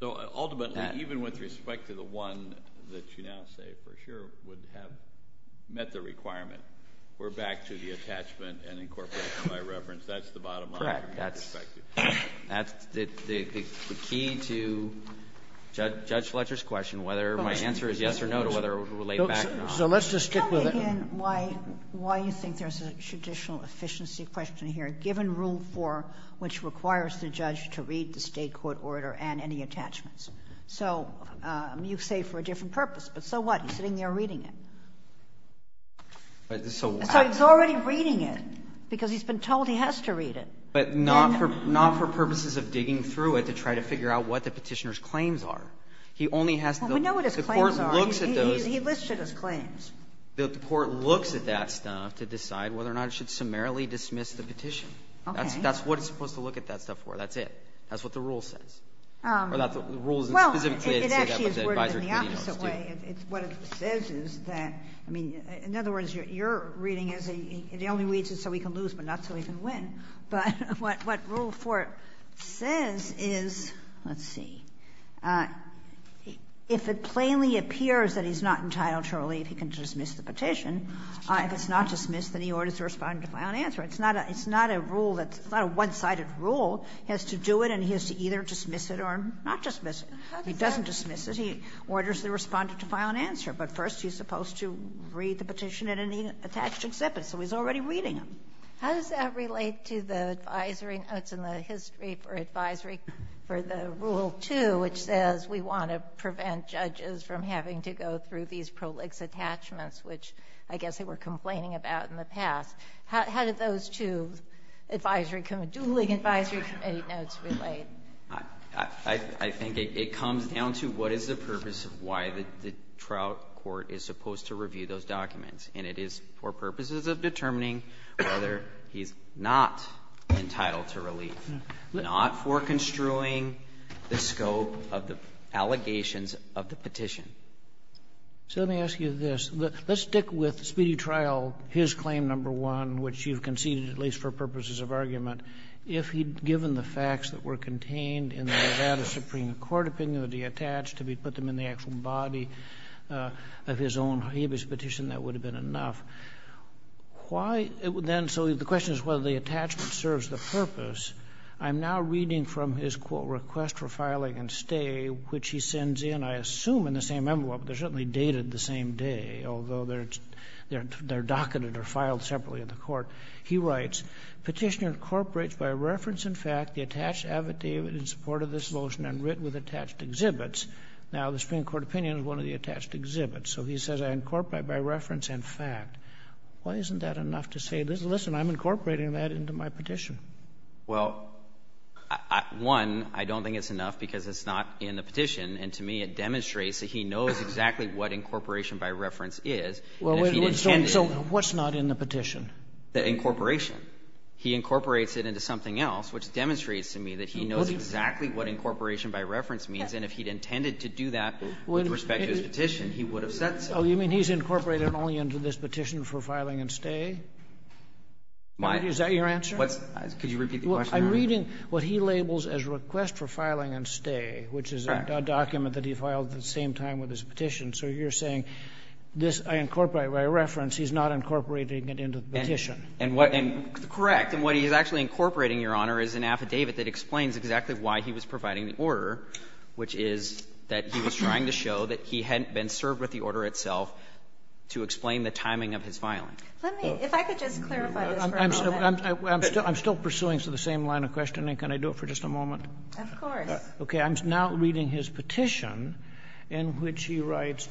So ultimately, even with respect to the one that you now say for sure would have met the requirement, we're back to the attachment and incorporation by reference. That's the bottom line from your perspective. Correct. That's the key to Judge Fletcher's question, whether my answer is yes or no to whether it would relate back or not. So let's just stick with it. Tell me again why you think there's a judicial efficiency question here, given Rule 4, which requires the judge to read the State court order and any attachments. So you say for a different purpose, but so what? He's sitting there reading it. So he's already reading it, because he's been told he has to read it. But not for purposes of digging through it to try to figure out what the Petitioner's claims are. He only has to look at the court's looks at those. He listed his claims. The court looks at that stuff to decide whether or not it should summarily dismiss the petition. Okay. That's what it's supposed to look at that stuff for. That's it. That's what the rule says. Or the rules specifically say that, but the advisory committee knows, too. It's what it says is that, I mean, in other words, you're reading as a the only reason is so he can lose, but not so he can win. But what Rule 4 says is, let's see, if it plainly appears that he's not entitled to relieve, he can dismiss the petition. If it's not dismissed, then he orders the Respondent to file an answer. It's not a rule that's not a one-sided rule. He has to do it, and he has to either dismiss it or not dismiss it. He doesn't dismiss it. He orders the Respondent to file an answer. But first, he's supposed to read the petition in any attached exhibit, so he's already reading them. How does that relate to the advisory notes in the history for advisory for the Rule 2, which says we want to prevent judges from having to go through these prolix attachments, which I guess they were complaining about in the past? How do those two advisory committee, dueling advisory committee notes relate? I think it comes down to what is the purpose of why the trial court is supposed to review those documents. And it is for purposes of determining whether he's not entitled to relieve, not for construing the scope of the allegations of the petition. So let me ask you this. Let's stick with Speedy Trial, his claim number one, which you've conceded at least for purposes of argument. If he'd given the facts that were contained in the Nevada Supreme Court opinion that he attached, if he'd put them in the actual body of his own exhibit petition, that would have been enough. Why then so the question is whether the attachment serves the purpose. I'm now reading from his, quote, request for filing and stay, which he sends in, I assume in the same envelope. They're certainly dated the same day, although they're docketed or filed separately in the court. He writes, Petitioner incorporates by reference and fact the attached affidavit in support of this motion and writ with attached exhibits. Now, the Supreme Court opinion is one of the attached exhibits. So he says I incorporate by reference and fact. Why isn't that enough to say, listen, I'm incorporating that into my petition? Well, one, I don't think it's enough because it's not in the petition. And to me, it demonstrates that he knows exactly what incorporation by reference is. So what's not in the petition? The incorporation. He incorporates it into something else, which demonstrates to me that he knows exactly what incorporation by reference means. And if he'd intended to do that with respect to his petition, he would have said so. Oh, you mean he's incorporated only into this petition for filing and stay? Is that your answer? Could you repeat the question? I'm reading what he labels as request for filing and stay, which is a document that he filed at the same time with his petition. So you're saying this I incorporate by reference. He's not incorporating it into the petition. And what he's actually incorporating, Your Honor, is an affidavit that explains exactly why he was providing the order, which is that he was trying to show that he hadn't been served with the order itself to explain the timing of his filing. Let me, if I could just clarify this for a moment. I'm still pursuing the same line of questioning. Can I do it for just a moment? Of course. Okay. I'm now reading his petition in which he writes,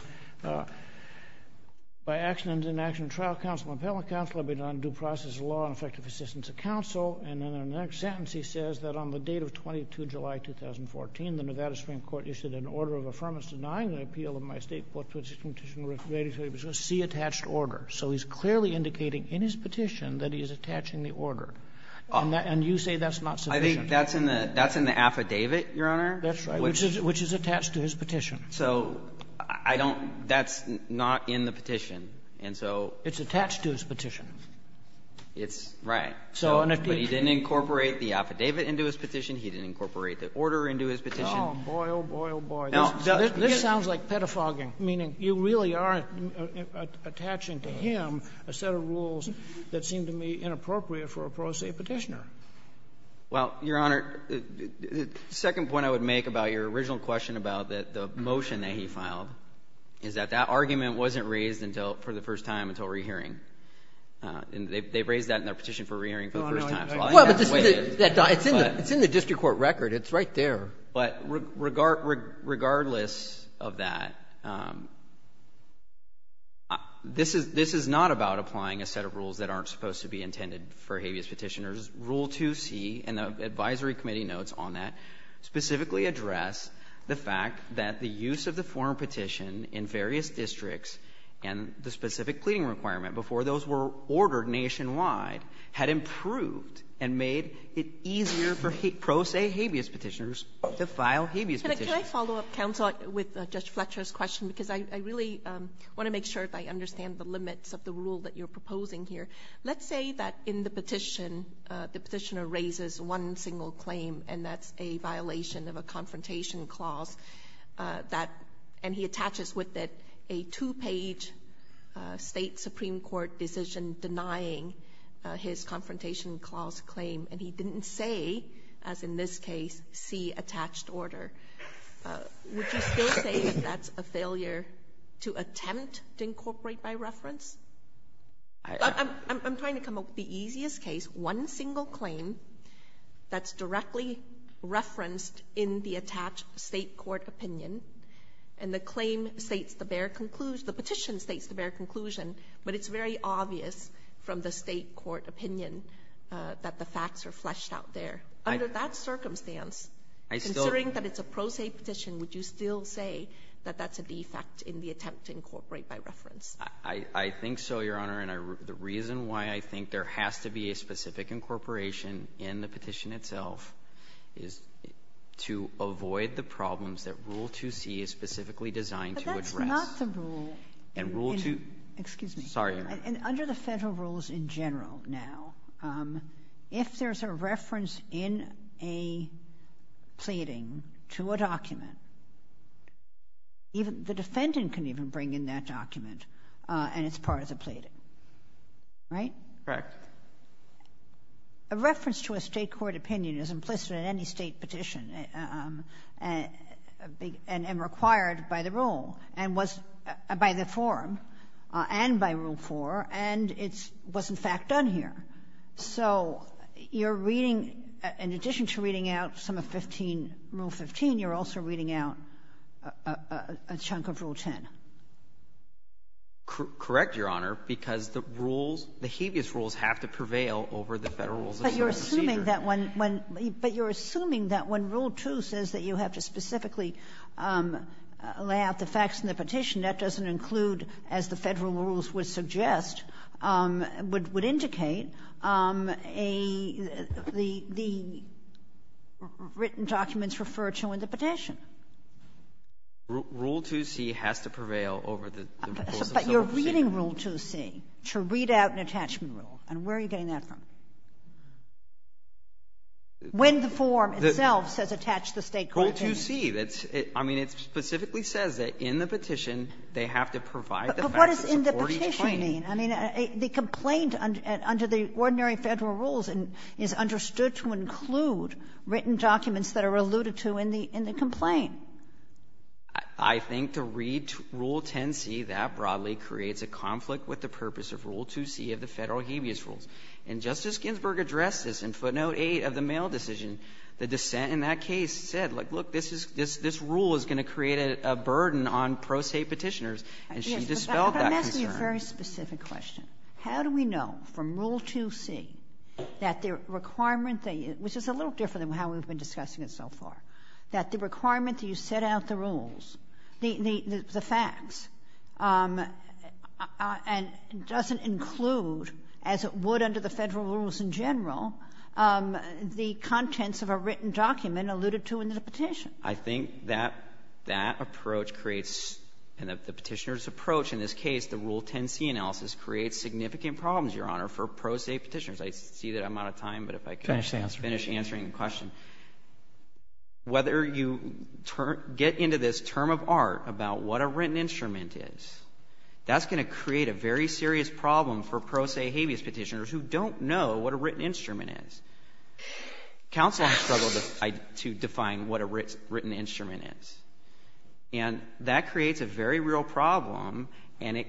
By accident and inaction of trial counsel and appellate counsel, I've been on due process of law and effective assistance of counsel. And in the next sentence he says that on the date of 22 July, 2014, the Nevada Supreme Court issued an order of affirmance denying the appeal of my State court petition, which was C, attached order. So he's clearly indicating in his petition that he is attaching the order. And you say that's not sufficient. I think that's in the affidavit, Your Honor. That's right, which is attached to his petition. So I don't – that's not in the petition. And so – It's attached to his petition. It's – right. So – But he didn't incorporate the affidavit into his petition. He didn't incorporate the order into his petition. Oh, boy, oh, boy, oh, boy. This sounds like pedophagy, meaning you really are attaching to him a set of rules that seem to me inappropriate for a pro se Petitioner. Well, Your Honor, the second point I would make about your original question about the motion that he filed is that that argument wasn't raised until – for the first time until re-hearing. And they've raised that in their petition for re-hearing for the first time. So I have to weigh in. Well, but this is – it's in the district court record. It's right there. But regardless of that, this is not about applying a set of rules that aren't supposed to be intended for habeas petitioners. Rule 2C and the advisory committee notes on that specifically address the fact that the use of the form petition in various districts and the specific pleading requirement before those were ordered nationwide had improved and made it easier for pro se habeas petitioners to file habeas petitions. Can I follow up, counsel, with Judge Fletcher's question? Because I really want to make sure I understand the limits of the rule that you're proposing here. Let's say that in the petition, the petitioner raises one single claim, and that's a violation of a confrontation clause that – and he attaches with it a two-page state supreme court decision denying his confrontation clause claim, and he didn't say, as in this case, see attached order. Would you still say that that's a failure to attempt to incorporate by reference? I'm trying to come up with the easiest case, one single claim that's directly referenced in the attached state court opinion, and the claim states the bare conclusion – the petition states the bare conclusion, but it's very obvious from the state court opinion that the facts are fleshed out there. Under that circumstance, considering that it's a pro se petition, would you still say that that's a defect in the attempt to incorporate by reference? I think so, Your Honor, and the reason why I think there has to be a specific incorporation in the petition itself is to avoid the problems that Rule 2C is specifically designed to address. But that's not the rule. And Rule 2 – Excuse me. Sorry, Your Honor. And under the Federal rules in general now, if there's a reference in a pleading to a document, the defendant can even bring in that document and it's part of the pleading, right? Correct. A reference to a state court opinion is implicit in any state petition and required by the rule and was – by the form and by Rule 4, and it was, in fact, done here. So you're reading – in addition to reading out some of 15 – Rule 15, you're also reading out a chunk of Rule 10. Correct, Your Honor, because the rules – the habeas rules have to prevail over the Federal rules of state procedure. But you're assuming that when – but you're assuming that when Rule 2 says that you have to specifically lay out the facts in the petition, that doesn't include, as the Federal rules would suggest – would indicate a – the written documents referred to in the petition. Rule 2c has to prevail over the rules of state procedure. But you're reading Rule 2c to read out an attachment rule. And where are you getting that from? When the form itself says attach the state court opinion. Rule 2c. That's – I mean, it specifically says that in the petition, they have to provide the facts that support each claim. But what does in the petition mean? I mean, the complaint under the ordinary Federal rules is understood to include written documents that are alluded to in the complaint. I think to read Rule 10c, that broadly creates a conflict with the purpose of Rule 2c of the Federal habeas rules. And Justice Ginsburg addressed this in footnote 8 of the mail decision. The dissent in that case said, like, look, this is – this rule is going to create a burden on pro se Petitioners. And she dispelled that concern. Kagan. But I'm asking a very specific question. How do we know from Rule 2c that the requirement that you – which is a little different than how we've been discussing it so far – that the requirement that you set out the rules, the facts, and doesn't include, as it would under the of a written document alluded to in the petition? I think that that approach creates – and the Petitioner's approach in this case, the Rule 10c analysis, creates significant problems, Your Honor, for pro se Petitioners. I see that I'm out of time, but if I could finish answering the question. Finish the answer. Whether you get into this term of art about what a written instrument is, that's going to create a very serious problem for pro se habeas Petitioners who don't know what a written instrument is. Counsel has struggled to define what a written instrument is. And that creates a very real problem, and it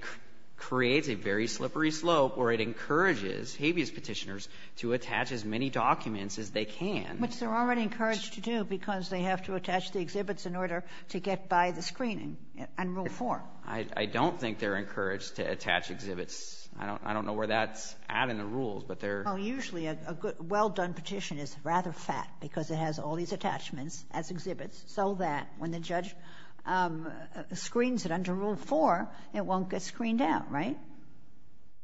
creates a very slippery slope where it encourages habeas Petitioners to attach as many documents as they can. Which they're already encouraged to do because they have to attach the exhibits in order to get by the screening and Rule 4. I don't think they're encouraged to attach exhibits. I don't know where that's at in the rules, but they're – Well, usually a well-done petition is rather fat because it has all these attachments as exhibits, so that when the judge screens it under Rule 4, it won't get screened out, right?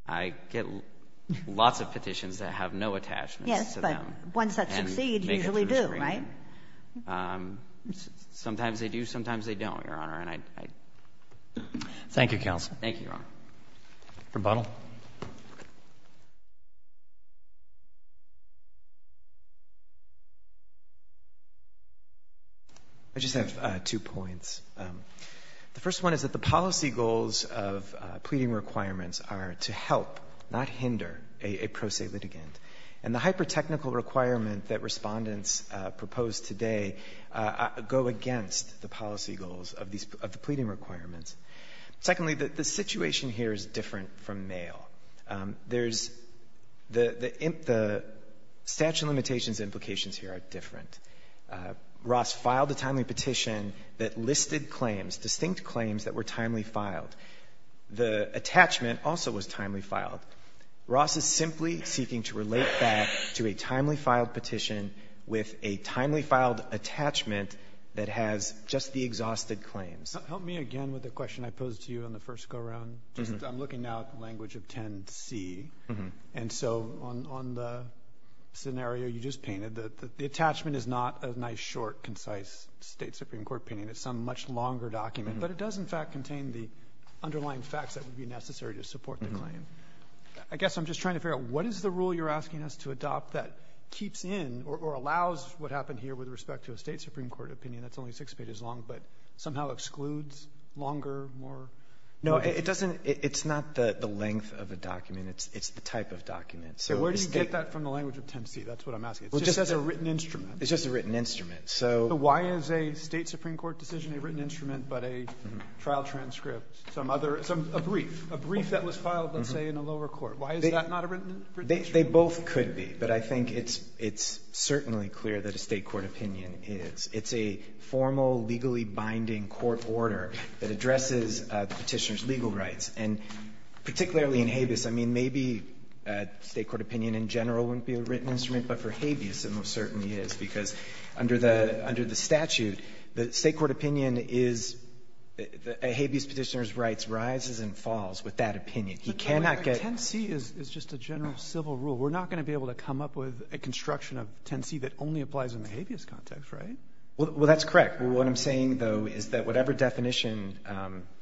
I get lots of petitions that have no attachments to them and make it to a screening. Yes, but ones that succeed usually do, right? Sometimes they do, sometimes they don't, Your Honor, and I – Thank you, Counsel. Thank you, Your Honor. Rebuttal. I just have two points. The first one is that the policy goals of pleading requirements are to help, not hinder, a pro se litigant. And the hyper-technical requirement that respondents proposed today go against the policy goals of the pleading requirements. Secondly, the situation here is different from mail. There's – the statute of limitations implications here are different. Ross filed a timely petition that listed claims, distinct claims that were timely filed. The attachment also was timely filed. Ross is simply seeking to relate that to a timely filed petition with a timely filed attachment that has just the exhausted claims. Help me again with the question I posed to you on the first go-around. I'm looking now at the language of 10C. And so on the scenario you just painted, the attachment is not a nice, short, concise State Supreme Court opinion. It's some much longer document. But it does, in fact, contain the underlying facts that would be necessary to support the claim. I guess I'm just trying to figure out what is the rule you're asking us to adopt that keeps in or allows what happened here with respect to a State Supreme Court opinion that's only six pages long but somehow excludes longer, more – No, it doesn't – it's not the length of a document. It's the type of document. So it's – Okay. Where do you get that from the language of 10C? That's what I'm asking. It just says a written instrument. It's just a written instrument. So – So why is a State Supreme Court decision a written instrument but a trial transcript, some other – a brief, a brief that was filed, let's say, in a lower court? Why is that not a written instrument? They both could be. But I think it's certainly clear that a State court opinion is. It's a formal, legally binding court order that addresses the Petitioner's legal rights. And particularly in habeas, I mean, maybe a State court opinion in general wouldn't be a written instrument. But for habeas, it most certainly is, because under the – under the statute, the State court opinion is – a habeas Petitioner's rights rises and falls with that opinion. He cannot get – But 10C is just a general civil rule. We're not going to be able to come up with a construction of 10C that only applies in the habeas context, right? Well, that's correct. What I'm saying, though, is that whatever definition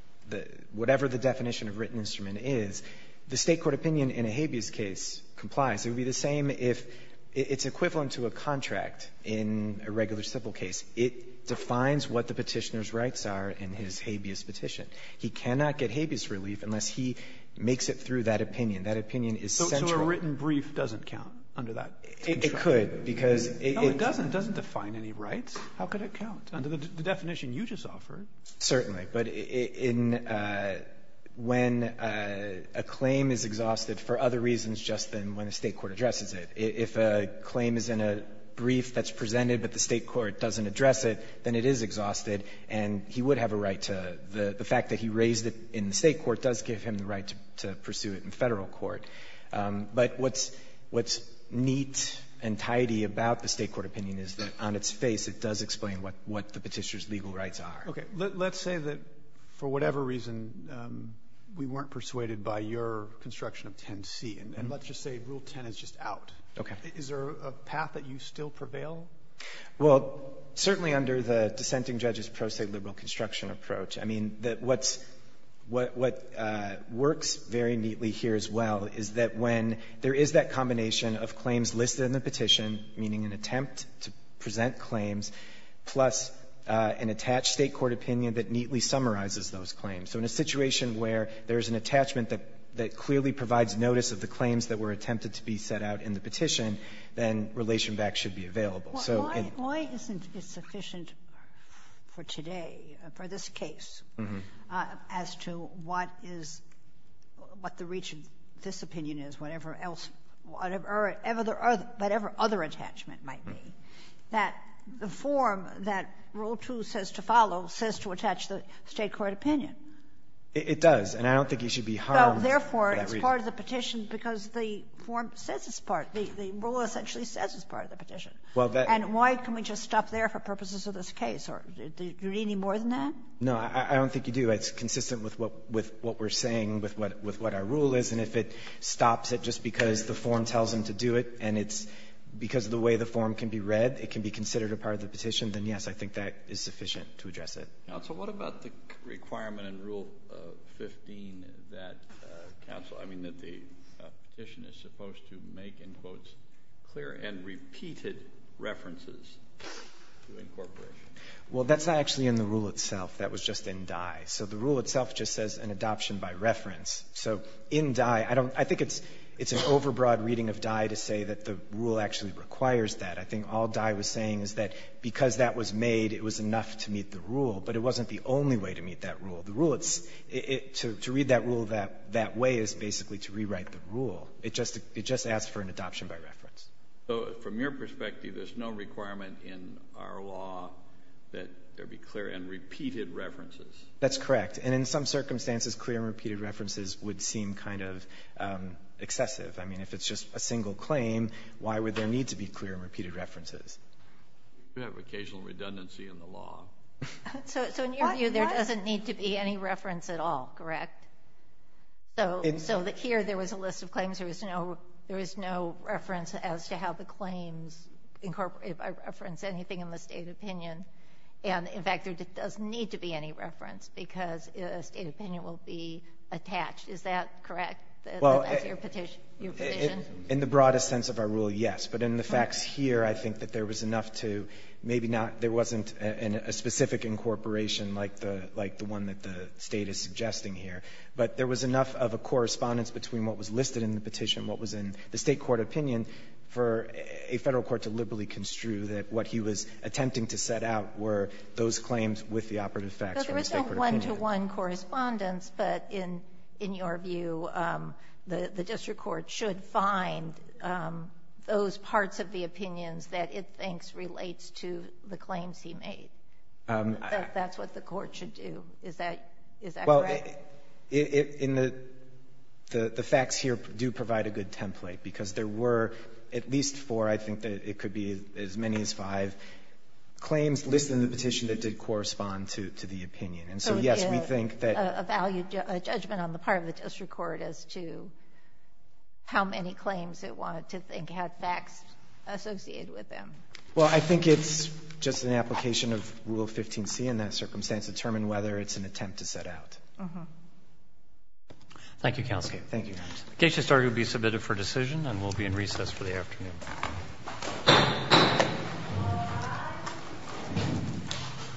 – whatever the definition of written instrument is, the State court opinion in a habeas case complies. It would be the same if – it's equivalent to a contract in a regular civil case. It defines what the Petitioner's rights are in his habeas petition. He cannot get habeas relief unless he makes it through that opinion. That opinion is central. So a written brief doesn't count under that? It could, because it – No, it doesn't. It doesn't define any rights. How could it count under the definition you just offered? Certainly. But in – when a claim is exhausted for other reasons just than when the State court addresses it, if a claim is in a brief that's presented but the State court doesn't address it, then it is exhausted, and he would have a right to – the fact that he raised it in the State court does give him the right to pursue it in Federal court. But what's neat and tidy about the State court opinion is that on its face it does explain what the Petitioner's legal rights are. Okay. Let's say that for whatever reason we weren't persuaded by your construction of 10C, and let's just say Rule 10 is just out. Okay. Is there a path that you still prevail? Well, certainly under the dissenting judge's pro-State liberal construction approach. I mean, what works very neatly here as well is that when there is that combination of claims listed in the petition, meaning an attempt to present claims, plus an attached State court opinion that neatly summarizes those claims. So in a situation where there is an attachment that clearly provides notice of the claims that were attempted to be set out in the petition, then relation back should be available. Well, why isn't it sufficient for today, for this case, as to what is – what the reach of this opinion is, whatever else – whatever other attachment might be, that the form that Rule 2 says to follow says to attach the State court opinion? It does. And I don't think he should be harmed for that reason. Well, therefore, it's part of the petition because the form says it's part – the rule essentially says it's part of the petition. And why can we just stop there for purposes of this case? Do you need any more than that? No. I don't think you do. It's consistent with what we're saying, with what our rule is. And if it stops it just because the form tells him to do it and it's because of the way the form can be read, it can be considered a part of the petition, then, yes, I think that is sufficient to address it. Counsel, what about the requirement in Rule 15 that counsel – I mean, that the petition is supposed to make, in quotes, clear and repeated references to incorporation? Well, that's not actually in the rule itself. That was just in Dye. So the rule itself just says an adoption by reference. So in Dye, I don't – I think it's an overbroad reading of Dye to say that the rule actually requires that. I think all Dye was saying is that because that was made, it was enough to meet the rule, but it wasn't the only way to meet that rule. The rule – to read that rule that way is basically to rewrite the rule. It just asks for an adoption by reference. So from your perspective, there's no requirement in our law that there be clear and repeated references? That's correct. And in some circumstances, clear and repeated references would seem kind of excessive. I mean, if it's just a single claim, why would there need to be clear and repeated references? You have occasional redundancy in the law. So in your view, there doesn't need to be any reference at all, correct? So here, there was a list of claims. There was no reference as to how the claims – if I reference anything in the state opinion. And in fact, there doesn't need to be any reference because a state opinion will be attached. Is that correct? That's your position? In the broadest sense of our rule, yes. But in the facts here, I think that there was enough to – maybe not – there wasn't a specific incorporation like the one that the State is suggesting here, but there was enough of a correspondence between what was listed in the petition, what was in the state court opinion, for a Federal court to liberally construe that what he was attempting to set out were those claims with the operative facts from the state court opinion. But there was no one-to-one correspondence, but in your view, the district court should find those parts of the opinions that it thinks relates to the claims he made. That's what the court should do. Is that correct? Well, in the – the facts here do provide a good template because there were at least four. I think that it could be as many as five claims listed in the petition that did correspond And so, yes, we think that – a value – a judgment on the part of the district court as to how many claims it wanted to think had facts associated with them. Well, I think it's just an application of Rule 15c in that circumstance to determine whether it's an attempt to set out. Uh-huh. Thank you, Counsel. Okay. Thank you. The case has now been submitted for decision and will be in recess for the afternoon.